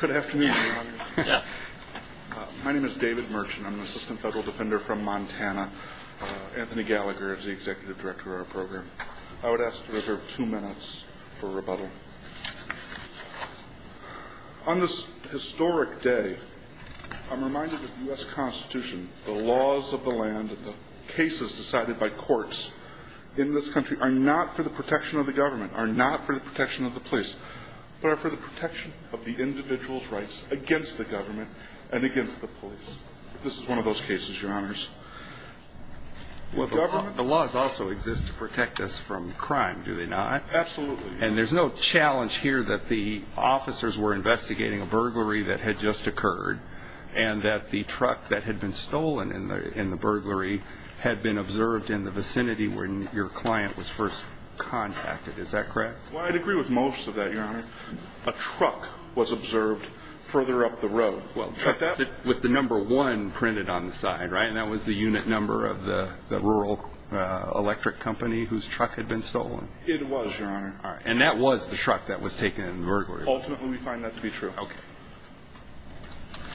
Good afternoon. My name is David Merchant. I'm an assistant federal defender from Montana. Anthony Gallagher is the executive director of our program. I would ask to reserve two minutes for rebuttal. On this historic day, I'm reminded that the U.S. Constitution, the laws of the land, the cases decided by courts in this country are not for the protection of the government, are not for the protection of the police, but are for the protection of the individual's rights against the government and against the police. This is one of those cases, your honors. The laws also exist to protect us from crime, do they not? Absolutely. And there's no challenge here that the officers were investigating a burglary that had just occurred and that the truck that had been stolen in the burglary had been observed in the vicinity where your client was first contacted. Is that correct? Well, I'd agree with most of that, your honor. A truck was observed further up the road. With the number one printed on the side, right? And that was the unit number of the rural electric company whose truck had been stolen? It was, your honor. And that was the truck that was taken in the burglary? Ultimately, we find that to be true.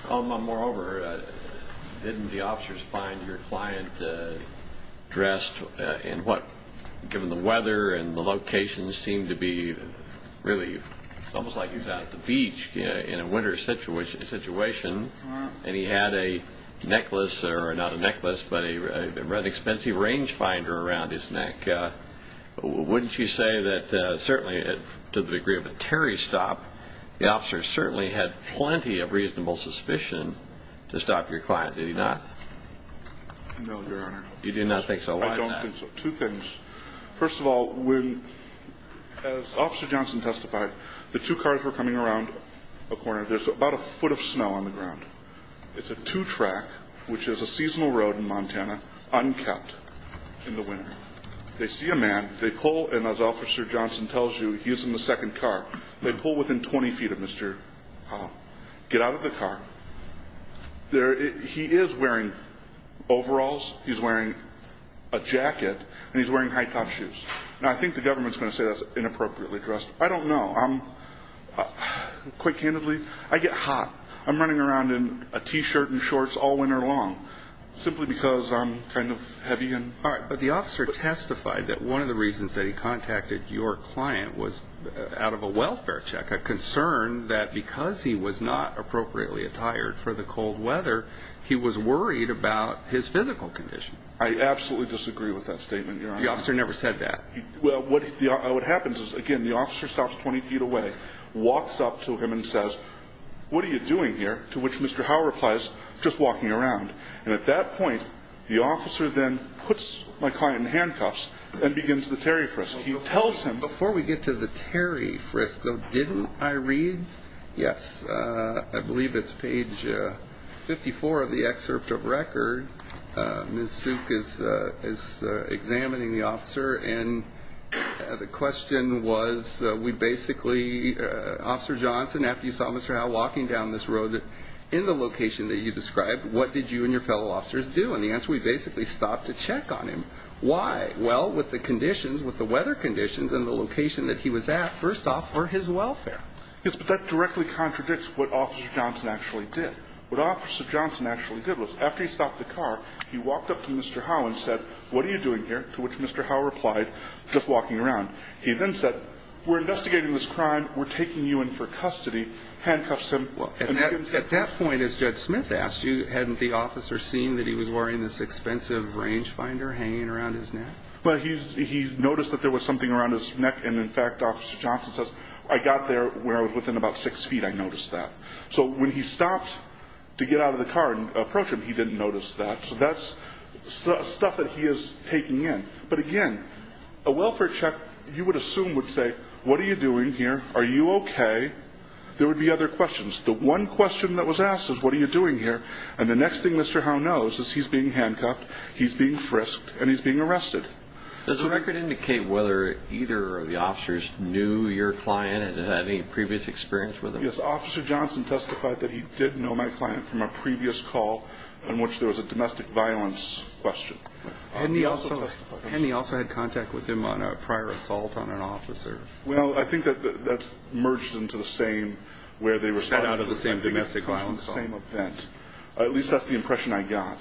Moreover, didn't the officers find your client dressed in what, given the weather and the location, seemed to be really almost like he was out at the beach in a winter situation, and he had a necklace, or not a necklace, but an expensive range finder around his neck. Wouldn't you say that certainly to the degree of a Terry stop, the officer certainly had plenty of reasonable suspicion to stop your client, did he not? No, your honor. You do not think so? Why is that? I don't think so. Two things. First of all, when, as Officer Johnson testified, the two cars were coming around a corner. There's about a foot of snow on the ground. It's a two-track, which is a seasonal road in Montana, unkept in the winter. They see a man. They pull, and as Officer Johnson tells you, he is in the second car. They pull within 20 feet of Mr. Howe. Get out of the car. He is wearing overalls, he's wearing a jacket, and he's wearing high-top shoes. Now, I think the government's going to say that's inappropriately dressed. I don't know. Quite candidly, I get hot. I'm running around in a T-shirt and shorts all winter long simply because I'm kind of heavy. But the officer testified that one of the reasons that he contacted your client was out of a welfare check, a concern that because he was not appropriately attired for the cold weather, he was worried about his physical condition. I absolutely disagree with that statement, your honor. The officer never said that. What happens is, again, the officer stops 20 feet away, walks up to him and says, what are you doing here? To which Mr. Howe replies, just walking around. And at that point, the officer then puts my client in handcuffs and begins the Terry Frisk. He tells him. Before we get to the Terry Frisk, though, didn't I read? Yes. I believe it's page 54 of the excerpt of record. Ms. Suk is examining the officer, and the question was, we basically, Officer Johnson, after you saw Mr. Howe walking down this road in the location that you described, what did you and your fellow officers do? And the answer, we basically stopped to check on him. Why? Well, with the conditions, with the weather conditions and the location that he was at, first off, for his welfare. Yes, but that directly contradicts what Officer Johnson actually did. What Officer Johnson actually did was, after he stopped the car, he walked up to Mr. Howe and said, what are you doing here? To which Mr. Howe replied, just walking around. He then said, we're investigating this crime, we're taking you in for custody, handcuffs him. Well, at that point, as Judge Smith asked you, hadn't the officer seen that he was wearing this expensive range finder hanging around his neck? Well, he noticed that there was something around his neck, and, in fact, Officer Johnson says, I got there where I was within about six feet, I noticed that. So when he stopped to get out of the car and approach him, he didn't notice that. So that's stuff that he is taking in. But, again, a welfare check, you would assume, would say, what are you doing here? Are you okay? There would be other questions. The one question that was asked is, what are you doing here? And the next thing Mr. Howe knows is he's being handcuffed, he's being frisked, and he's being arrested. Does the record indicate whether either of the officers knew your client and had any previous experience with him? Yes, Officer Johnson testified that he did know my client from a previous call in which there was a domestic violence question. Hadn't he also had contact with him on a prior assault on an officer? Well, I think that that's merged into the same where they responded to the same event. At least that's the impression I got.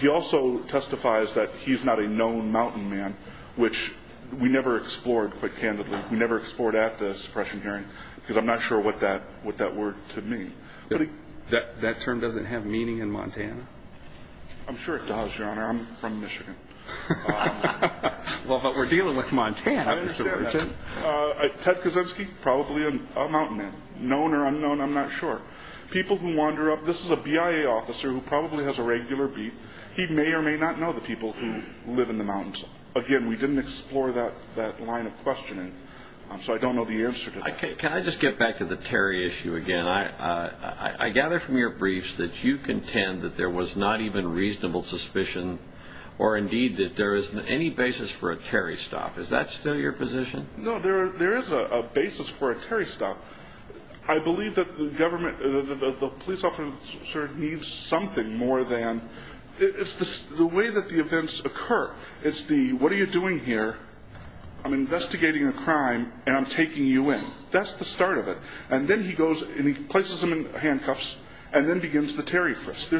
He also testifies that he's not a known mountain man, which we never explored, quite candidly. We never explored at the suppression hearing because I'm not sure what that word could mean. That term doesn't have meaning in Montana? I'm sure it does, Your Honor. I'm from Michigan. Well, but we're dealing with Montana, Mr. Burchett. Ted Kaczynski, probably a mountain man. Known or unknown, I'm not sure. People who wander up, this is a BIA officer who probably has a regular beat. He may or may not know the people who live in the mountains. Again, we didn't explore that line of questioning, so I don't know the answer to that. Can I just get back to the Terry issue again? I gather from your briefs that you contend that there was not even reasonable suspicion or, indeed, that there isn't any basis for a Terry stop. Is that still your position? No, there is a basis for a Terry stop. I believe that the government, the police officer needs something more than It's the way that the events occur. It's the, what are you doing here, I'm investigating a crime, and I'm taking you in. That's the start of it. And then he goes and he places him in handcuffs and then begins the Terry frisk.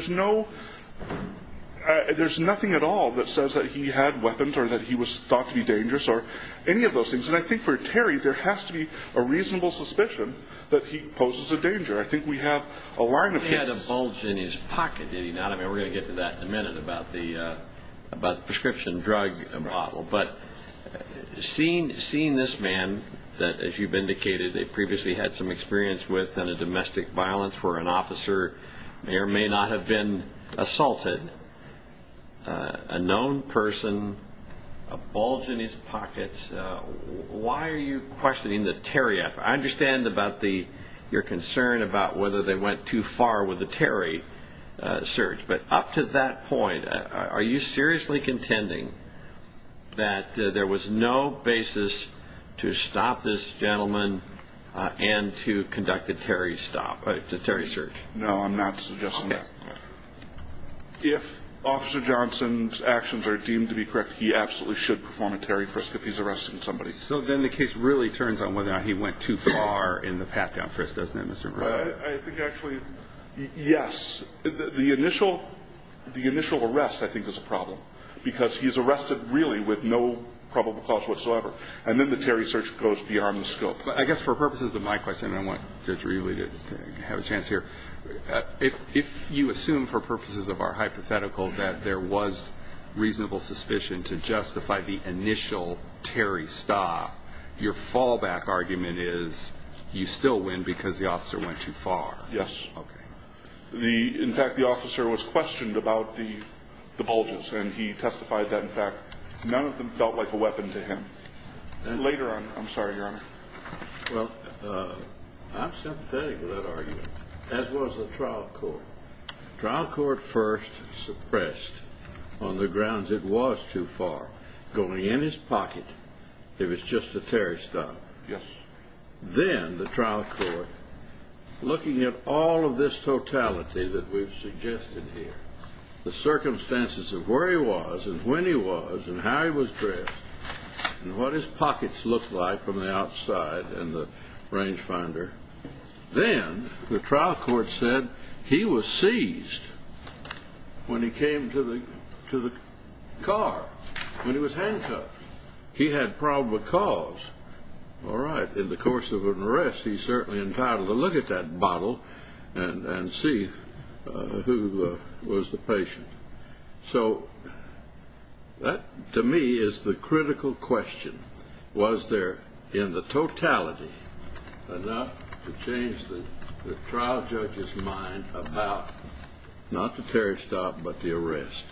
There's nothing at all that says that he had weapons or that he was thought to be dangerous or any of those things. And I think for a Terry, there has to be a reasonable suspicion that he poses a danger. I think we have a line of this. He had a bulge in his pocket, did he not? I mean, we're going to get to that in a minute about the prescription drug bottle. But seeing this man that, as you've indicated, they previously had some experience with on a domestic violence where an officer may or may not have been assaulted, a known person, a bulge in his pockets, why are you questioning the Terry effort? I understand about your concern about whether they went too far with the Terry search. But up to that point, are you seriously contending that there was no basis to stop this gentleman and to conduct a Terry stop, a Terry search? No, I'm not suggesting that. If Officer Johnson's actions are deemed to be correct, he absolutely should perform a Terry frisk if he's arresting somebody. So then the case really turns on whether or not he went too far in the pat-down frisk, doesn't it, Mr. Murray? I think actually, yes. The initial arrest, I think, is a problem because he's arrested really with no probable cause whatsoever. And then the Terry search goes beyond the scope. I guess for purposes of my question, and I want Judge Reevely to have a chance here, if you assume for purposes of our hypothetical that there was reasonable suspicion to justify the initial Terry stop, your fallback argument is you still win because the officer went too far. Yes. Okay. In fact, the officer was questioned about the bulges, and he testified that, in fact, none of them felt like a weapon to him. Later on, I'm sorry, Your Honor. Well, I'm sympathetic to that argument, as was the trial court. The trial court first suppressed on the grounds it was too far, going in his pocket, if it's just a Terry stop. Yes. Then the trial court, looking at all of this totality that we've suggested here, the circumstances of where he was and when he was and how he was dressed and what his pockets looked like from the outside and the range finder, then the trial court said he was seized when he came to the car, when he was handcuffed. He had probable cause. All right. In the course of an arrest, he's certainly entitled to look at that bottle and see who was the patient. So that, to me, is the critical question. Was there, in the totality, enough to change the trial judge's mind about not the Terry stop but the arrest?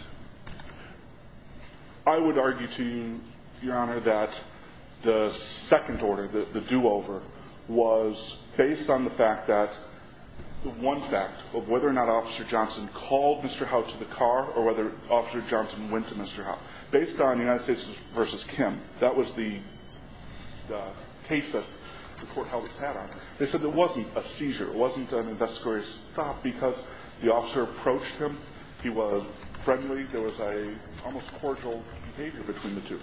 I would argue to you, Your Honor, that the second order, the do-over, was based on the fact that the one fact of whether or not Officer Johnson called Mr. Howe to the car or whether Officer Johnson went to Mr. Howe. Based on United States v. Kim, that was the case that the court held its head on, they said there wasn't a seizure. It wasn't an investigatory stop because the officer approached him. He was friendly. There was an almost cordial behavior between the two.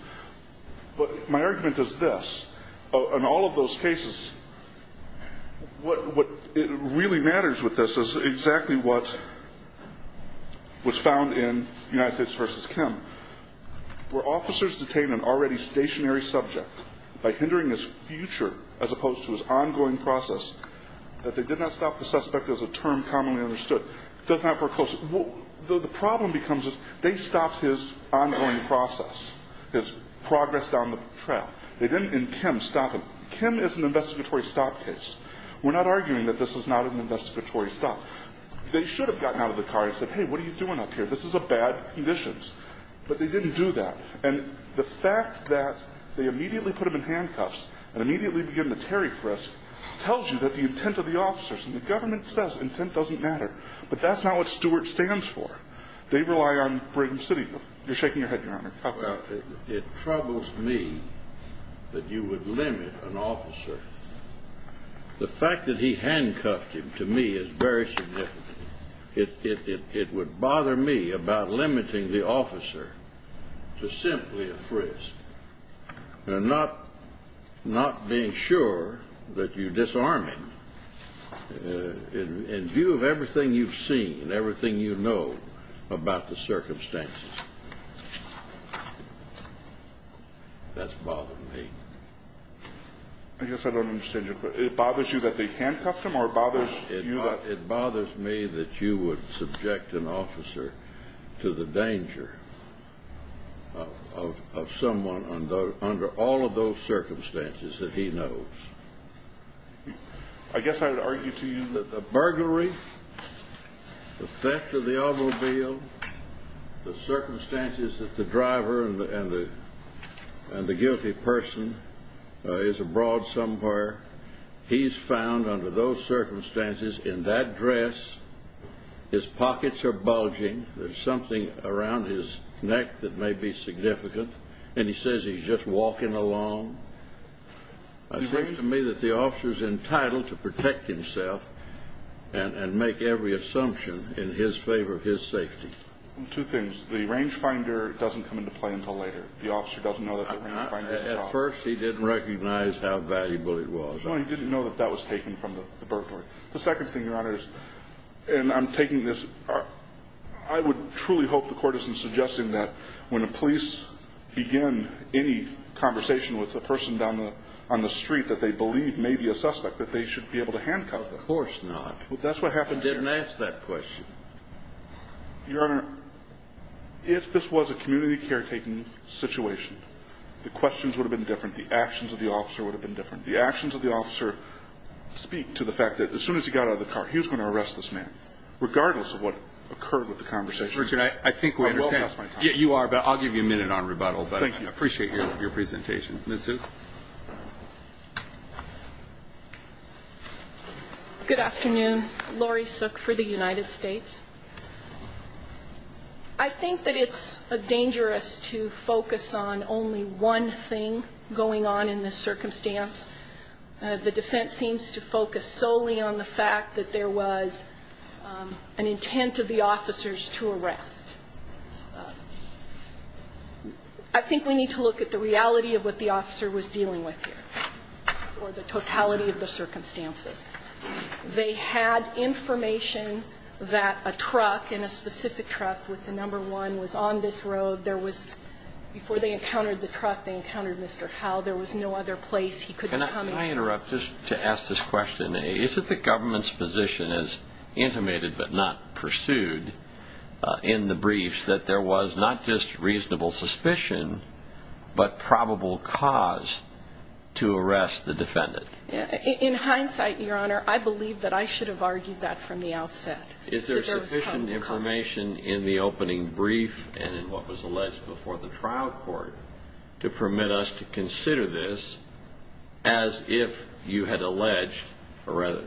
But my argument is this. In all of those cases, what really matters with this is exactly what was found in United States v. Kim, where officers detain an already stationary subject by hindering his future as opposed to his ongoing process, that they did not stop the suspect as a term commonly understood. The problem becomes they stopped his ongoing process, his progress down the trail. They didn't, in Kim, stop him. Kim is an investigatory stop case. We're not arguing that this is not an investigatory stop. They should have gotten out of the car and said, hey, what are you doing up here? This is a bad condition. But they didn't do that. And the fact that they immediately put him in handcuffs and immediately began the Terry frisk tells you that the intent of the officers and the government says intent doesn't matter. But that's not what Stewart stands for. They rely on Brigham City. You're shaking your head, Your Honor. It troubles me that you would limit an officer. The fact that he handcuffed him to me is very significant. It would bother me about limiting the officer to simply a frisk. And not being sure that you disarm him in view of everything you've seen, everything you know about the circumstances. That's bothering me. I guess I don't understand your question. It bothers you that they handcuffed him or it bothers you that? You would subject an officer to the danger of someone under all of those circumstances that he knows. I guess I would argue to you that the burglary, the theft of the automobile, the circumstances that the driver and the guilty person is abroad somewhere, he's found under those circumstances in that dress. His pockets are bulging. There's something around his neck that may be significant. And he says he's just walking along. It seems to me that the officer is entitled to protect himself and make every assumption in his favor of his safety. Two things. The range finder doesn't come into play until later. The officer doesn't know that the range finder is involved. At first, he didn't recognize how valuable it was. Well, he didn't know that that was taken from the burglary. The second thing, Your Honor, is – and I'm taking this – I would truly hope the court isn't suggesting that when the police begin any conversation with a person down on the street that they believe may be a suspect, that they should be able to handcuff them. Of course not. That's what happened here. I didn't ask that question. Your Honor, if this was a community caretaking situation, the questions would have been different. The actions of the officer would have been different. The actions of the officer speak to the fact that as soon as he got out of the car, he was going to arrest this man, regardless of what occurred with the conversation. I think we understand. I will pass my time. Yeah, you are. But I'll give you a minute on rebuttal. Thank you. But I appreciate your presentation. Ms. Suk. Good afternoon. Laurie Suk for the United States. I think that it's dangerous to focus on only one thing going on in this circumstance. The defense seems to focus solely on the fact that there was an intent of the officers to arrest. I think we need to look at the reality of what the officer was dealing with here, or the totality of the circumstances. They had information that a truck, and a specific truck with the number one, was on this road. Before they encountered the truck, they encountered Mr. Howell. There was no other place he could have come in. Can I interrupt just to ask this question? Is it the government's position, as intimated but not pursued in the briefs, that there was not just reasonable suspicion, but probable cause to arrest the defendant? In hindsight, Your Honor, I believe that I should have argued that from the outset. Is there sufficient information in the opening brief and in what was alleged before the trial court to permit us to consider this as if you had alleged, or rather,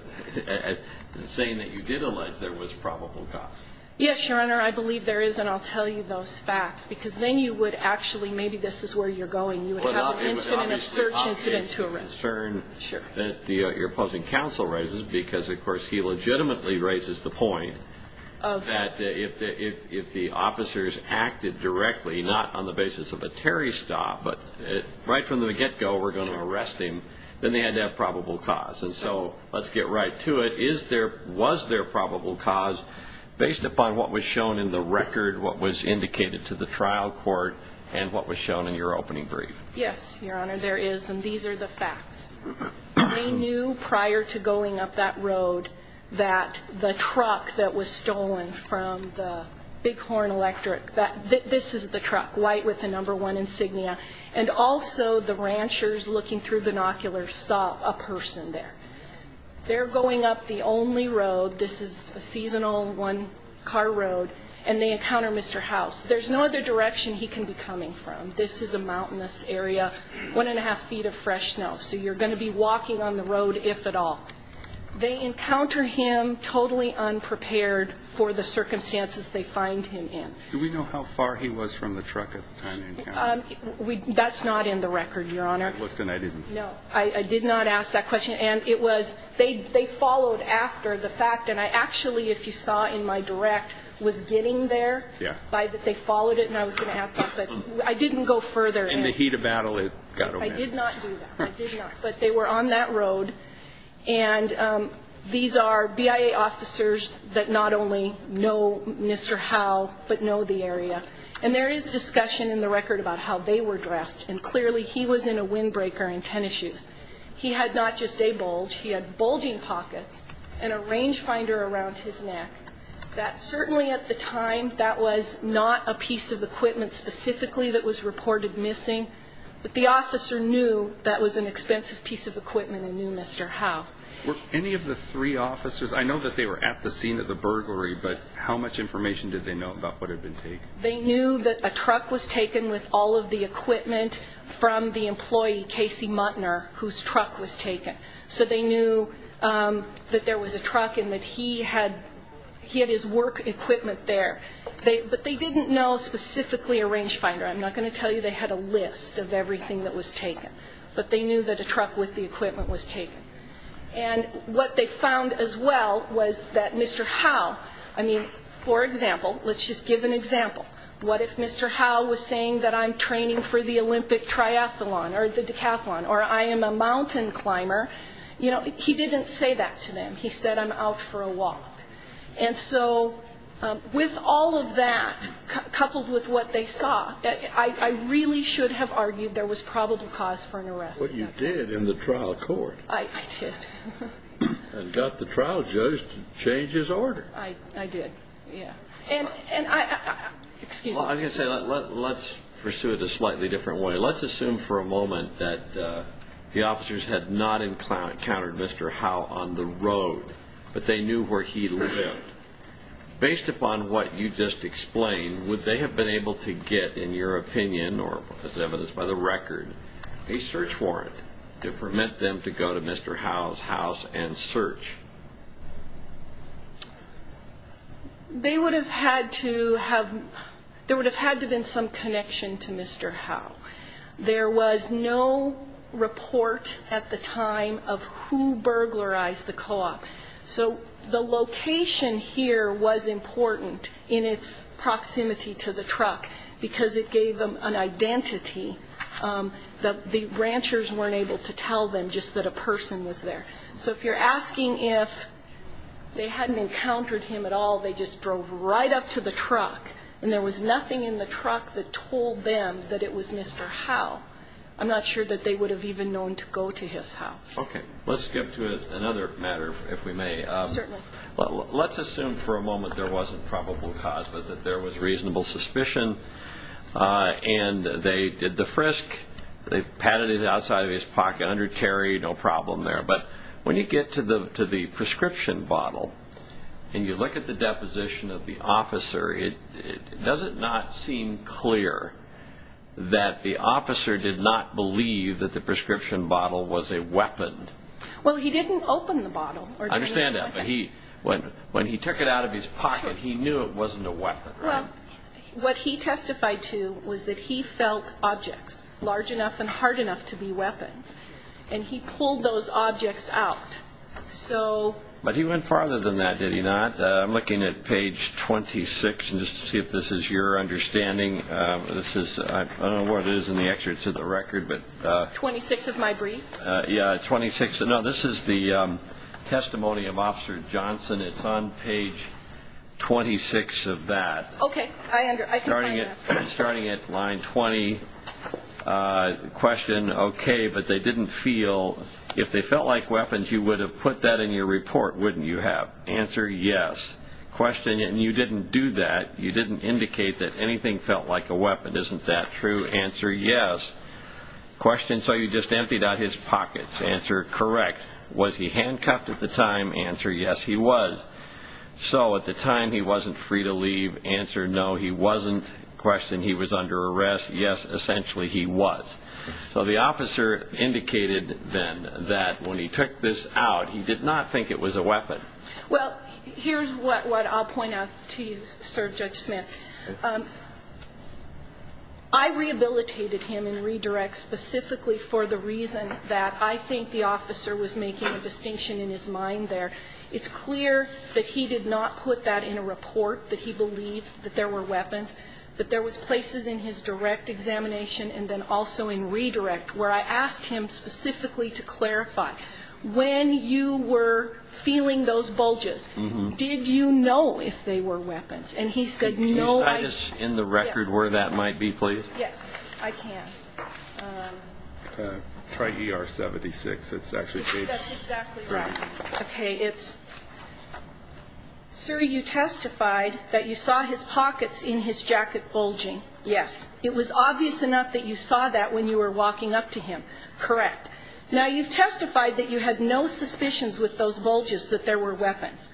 saying that you did allege there was probable cause? Yes, Your Honor. I believe there is, and I'll tell you those facts, because then you would actually, maybe this is where you're going. You would have an incident of search incident to arrest. Your opposing counsel raises, because of course he legitimately raises the point, that if the officers acted directly, not on the basis of a Terry stop, but right from the get-go were going to arrest him, then they had to have probable cause. So let's get right to it. Was there probable cause based upon what was shown in the record, what was indicated to the trial court, and what was shown in your opening brief? Yes, Your Honor, there is, and these are the facts. They knew prior to going up that road that the truck that was stolen from the Bighorn Electric, this is the truck, white with the number one insignia, and also the ranchers looking through binoculars saw a person there. They're going up the only road, this is a seasonal one-car road, and they encounter Mr. House. There's no other direction he can be coming from. This is a mountainous area, one-and-a-half feet of fresh snow, so you're going to be walking on the road, if at all. They encounter him totally unprepared for the circumstances they find him in. Do we know how far he was from the truck at the time they encountered him? That's not in the record, Your Honor. I looked and I didn't see it. No, I did not ask that question. And it was they followed after the fact, and I actually, if you saw in my direct, was getting there. Yeah. They followed it, and I was going to ask that, but I didn't go further. In the heat of battle, it got over. I did not do that. I did not. But they were on that road, and these are BIA officers that not only know Mr. Howe, but know the area. And there is discussion in the record about how they were dressed, and clearly he was in a windbreaker and tennis shoes. He had not just a bulge, he had bulging pockets and a range finder around his neck. That certainly at the time, that was not a piece of equipment specifically that was reported missing, but the officer knew that was an expensive piece of equipment and knew Mr. Howe. Were any of the three officers, I know that they were at the scene of the burglary, but how much information did they know about what had been taken? They knew that a truck was taken with all of the equipment from the employee, Casey Munter, whose truck was taken. So they knew that there was a truck and that he had his work equipment there. But they didn't know specifically a range finder. I'm not going to tell you they had a list of everything that was taken, but they knew that a truck with the equipment was taken. And what they found as well was that Mr. Howe, I mean, for example, let's just give an example. What if Mr. Howe was saying that I'm training for the Olympic triathlon or the decathlon or I am a mountain climber? You know, he didn't say that to them. He said I'm out for a walk. And so with all of that, coupled with what they saw, I really should have argued there was probable cause for an arrest. But you did in the trial court. I did. And got the trial judge to change his order. I did, yeah. And I, excuse me. Well, I was going to say, let's pursue it a slightly different way. Let's assume for a moment that the officers had not encountered Mr. Howe on the road, but they knew where he lived. Based upon what you just explained, would they have been able to get, in your opinion, or as evidenced by the record, a search warrant to permit them to go to Mr. Howe's house and search? They would have had to have, there would have had to have been some connection to Mr. Howe. There was no report at the time of who burglarized the co-op. So the location here was important in its proximity to the truck because it gave them an identity. The ranchers weren't able to tell them just that a person was there. So if you're asking if they hadn't encountered him at all, they just drove right up to the truck, and there was nothing in the truck that told them that it was Mr. Howe. I'm not sure that they would have even known to go to his house. Okay. Let's skip to another matter, if we may. Certainly. Let's assume for a moment there wasn't probable cause, but that there was reasonable suspicion, and they did the frisk. They patted it outside of his pocket, under carry, no problem there. But when you get to the prescription bottle and you look at the deposition of the officer, does it not seem clear that the officer did not believe that the prescription bottle was a weapon? Well, he didn't open the bottle. I understand that, but when he took it out of his pocket, he knew it wasn't a weapon. What he testified to was that he felt objects large enough and hard enough to be weapons, and he pulled those objects out. But he went farther than that, did he not? I'm looking at page 26, just to see if this is your understanding. I don't know what it is in the excerpts of the record. 26 of my brief? Yeah, 26. No, this is the testimony of Officer Johnson. It's on page 26 of that. Okay. I can find it. Starting at line 20, question, okay, but they didn't feel. If they felt like weapons, you would have put that in your report, wouldn't you have? Answer, yes. Question, and you didn't do that. You didn't indicate that anything felt like a weapon. Isn't that true? Answer, yes. Question, so you just emptied out his pockets. Answer, correct. Was he handcuffed at the time? Answer, yes, he was. So at the time, he wasn't free to leave. Answer, no, he wasn't. Question, he was under arrest. Yes, essentially he was. So the officer indicated then that when he took this out, he did not think it was a weapon. Well, here's what I'll point out to you, sir, Judge Smith. I rehabilitated him in redirects specifically for the reason that I think the officer was making a distinction in his mind there. It's clear that he did not put that in a report, that he believed that there were weapons, that there was places in his direct examination and then also in redirect where I asked him specifically to clarify. When you were feeling those bulges, did you know if they were weapons? And he said, no, I didn't. Can you just end the record where that might be, please? Yes, I can. Try ER-76. That's exactly right. Okay, it's, sir, you testified that you saw his pockets in his jacket bulging. Yes. It was obvious enough that you saw that when you were walking up to him. Correct. Now, you've testified that you had no suspicions with those bulges that there were weapons.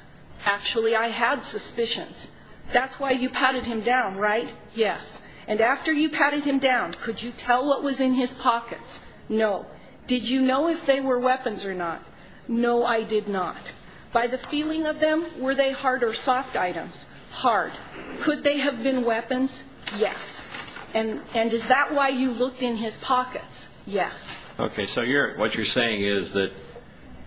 Actually, I had suspicions. That's why you patted him down, right? Yes. And after you patted him down, could you tell what was in his pockets? No. Did you know if they were weapons or not? No, I did not. By the feeling of them, were they hard or soft items? Hard. Could they have been weapons? Yes. And is that why you looked in his pockets? Yes. Okay, so what you're saying is that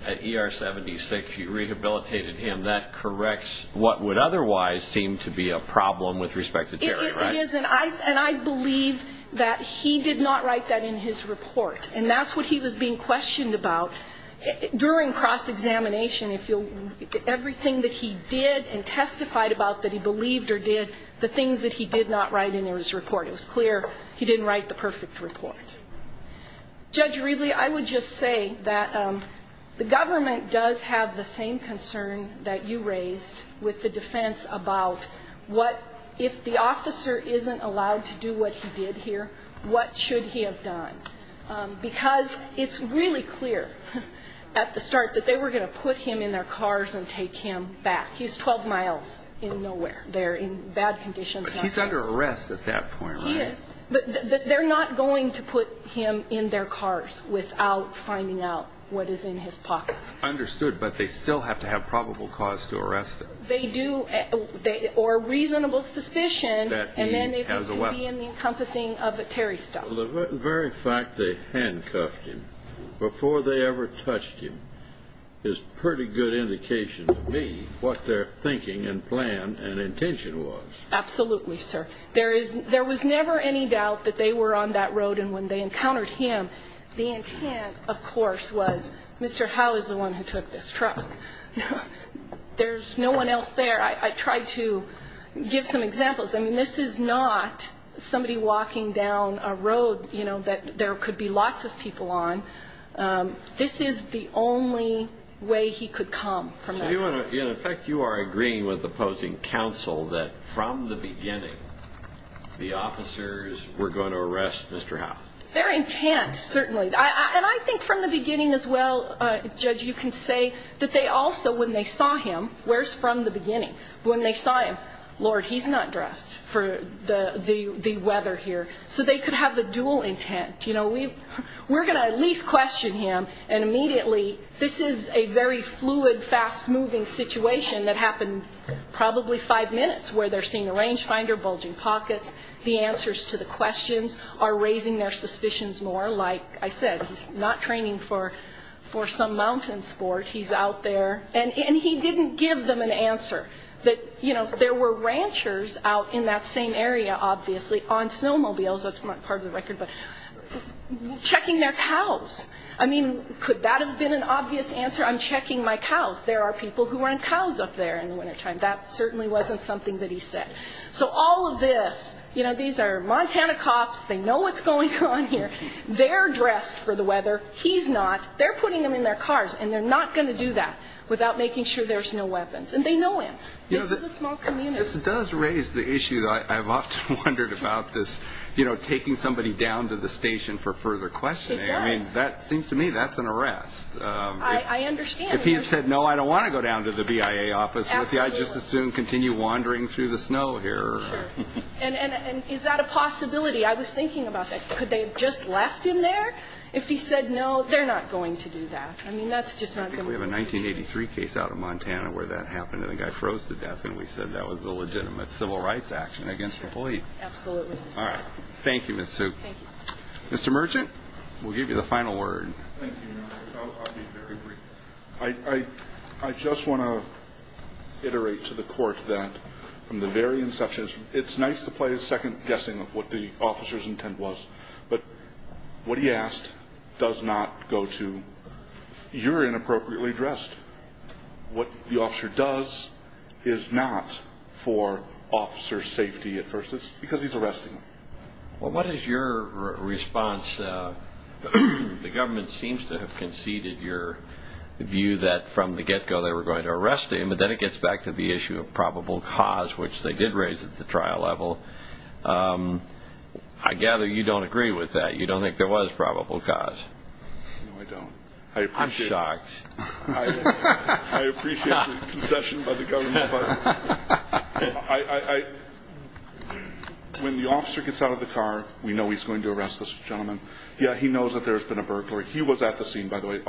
at ER-76 you rehabilitated him. That corrects what would otherwise seem to be a problem with respect to Terry, right? It is, and I believe that he did not write that in his report, and that's what he was being questioned about. During cross-examination, everything that he did and testified about that he believed or did, the things that he did not write in his report, it was clear he didn't write the perfect report. Judge Reedley, I would just say that the government does have the same concern that you raised with the defense about what, if the officer isn't allowed to do what he did here, what should he have done? Because it's really clear at the start that they were going to put him in their cars and take him back. He's 12 miles in nowhere. They're in bad conditions. But he's under arrest at that point, right? He is. But they're not going to put him in their cars without finding out what is in his pockets. Understood, but they still have to have probable cause to arrest him. They do, or reasonable suspicion, and then it could be in the encompassing of Terry's stuff. Well, the very fact they handcuffed him before they ever touched him is pretty good indication to me what their thinking and plan and intention was. Absolutely, sir. There was never any doubt that they were on that road, and when they encountered him, the intent, of course, was Mr. Howe is the one who took this truck. There's no one else there. I tried to give some examples. I mean, this is not somebody walking down a road that there could be lots of people on. This is the only way he could come from that. In effect, you are agreeing with opposing counsel that from the beginning the officers were going to arrest Mr. Howe. Their intent, certainly. And I think from the beginning as well, Judge, you can say that they also, when they saw him, where's from the beginning? When they saw him, Lord, he's not dressed for the weather here. So they could have the dual intent. You know, we're going to at least question him, and immediately this is a very fluid, fast-moving situation that happened probably five minutes where they're seeing a range finder, bulging pockets. The answers to the questions are raising their suspicions more. Like I said, he's not training for some mountain sport. He's out there. And he didn't give them an answer. You know, there were ranchers out in that same area, obviously, on snowmobiles. That's not part of the record, but checking their cows. I mean, could that have been an obvious answer? I'm checking my cows. There are people who run cows up there in the wintertime. That certainly wasn't something that he said. So all of this, you know, these are Montana cops. They know what's going on here. They're dressed for the weather. He's not. They're putting them in their cars, and they're not going to do that without making sure there's no weapons. And they know him. This is a small community. This does raise the issue that I've often wondered about this, you know, taking somebody down to the station for further questioning. It does. I mean, that seems to me that's an arrest. I understand. If he had said, no, I don't want to go down to the BIA office with you, I'd just as soon continue wandering through the snow here. Sure. And is that a possibility? I was thinking about that. Could they have just left him there if he said, no, they're not going to do that? I mean, that's just not going to work. We have a 1983 case out of Montana where that happened and the guy froze to death, and we said that was a legitimate civil rights action against the police. Absolutely. All right. Thank you, Ms. Sue. Thank you. Mr. Merchant, we'll give you the final word. Thank you, Your Honor. I'll be very brief. I just want to iterate to the Court that from the very inception, it's nice to play a second guessing of what the officer's intent was. But what he asked does not go to you're inappropriately dressed. What the officer does is not for officer's safety at first. It's because he's arresting them. Well, what is your response? The government seems to have conceded your view that from the get-go they were going to arrest him, but then it gets back to the issue of probable cause, which they did raise at the trial level. I gather you don't agree with that. You don't think there was probable cause. No, I don't. I appreciate it. I'm shocked. I appreciate the concession by the government. When the officer gets out of the car, we know he's going to arrest this gentleman. Yeah, he knows that there's been a burglary. He was at the scene, by the way.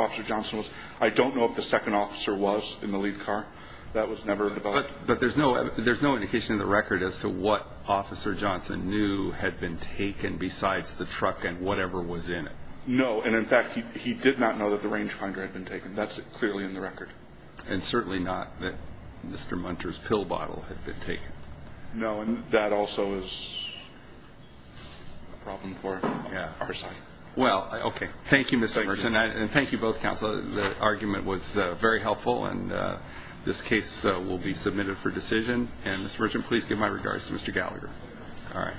I don't know if the second officer was in the lead car. That was never developed. But there's no indication in the record as to what Officer Johnson knew had been taken besides the truck and whatever was in it. No, and, in fact, he did not know that the range finder had been taken. That's clearly in the record. And certainly not that Mr. Munter's pill bottle had been taken. No, and that also is a problem for our side. Well, okay. Thank you, Mr. Merchant, and thank you both, Counsel. The argument was very helpful, and this case will be submitted for decision. And, Mr. Merchant, please give my regards to Mr. Gallagher. All right.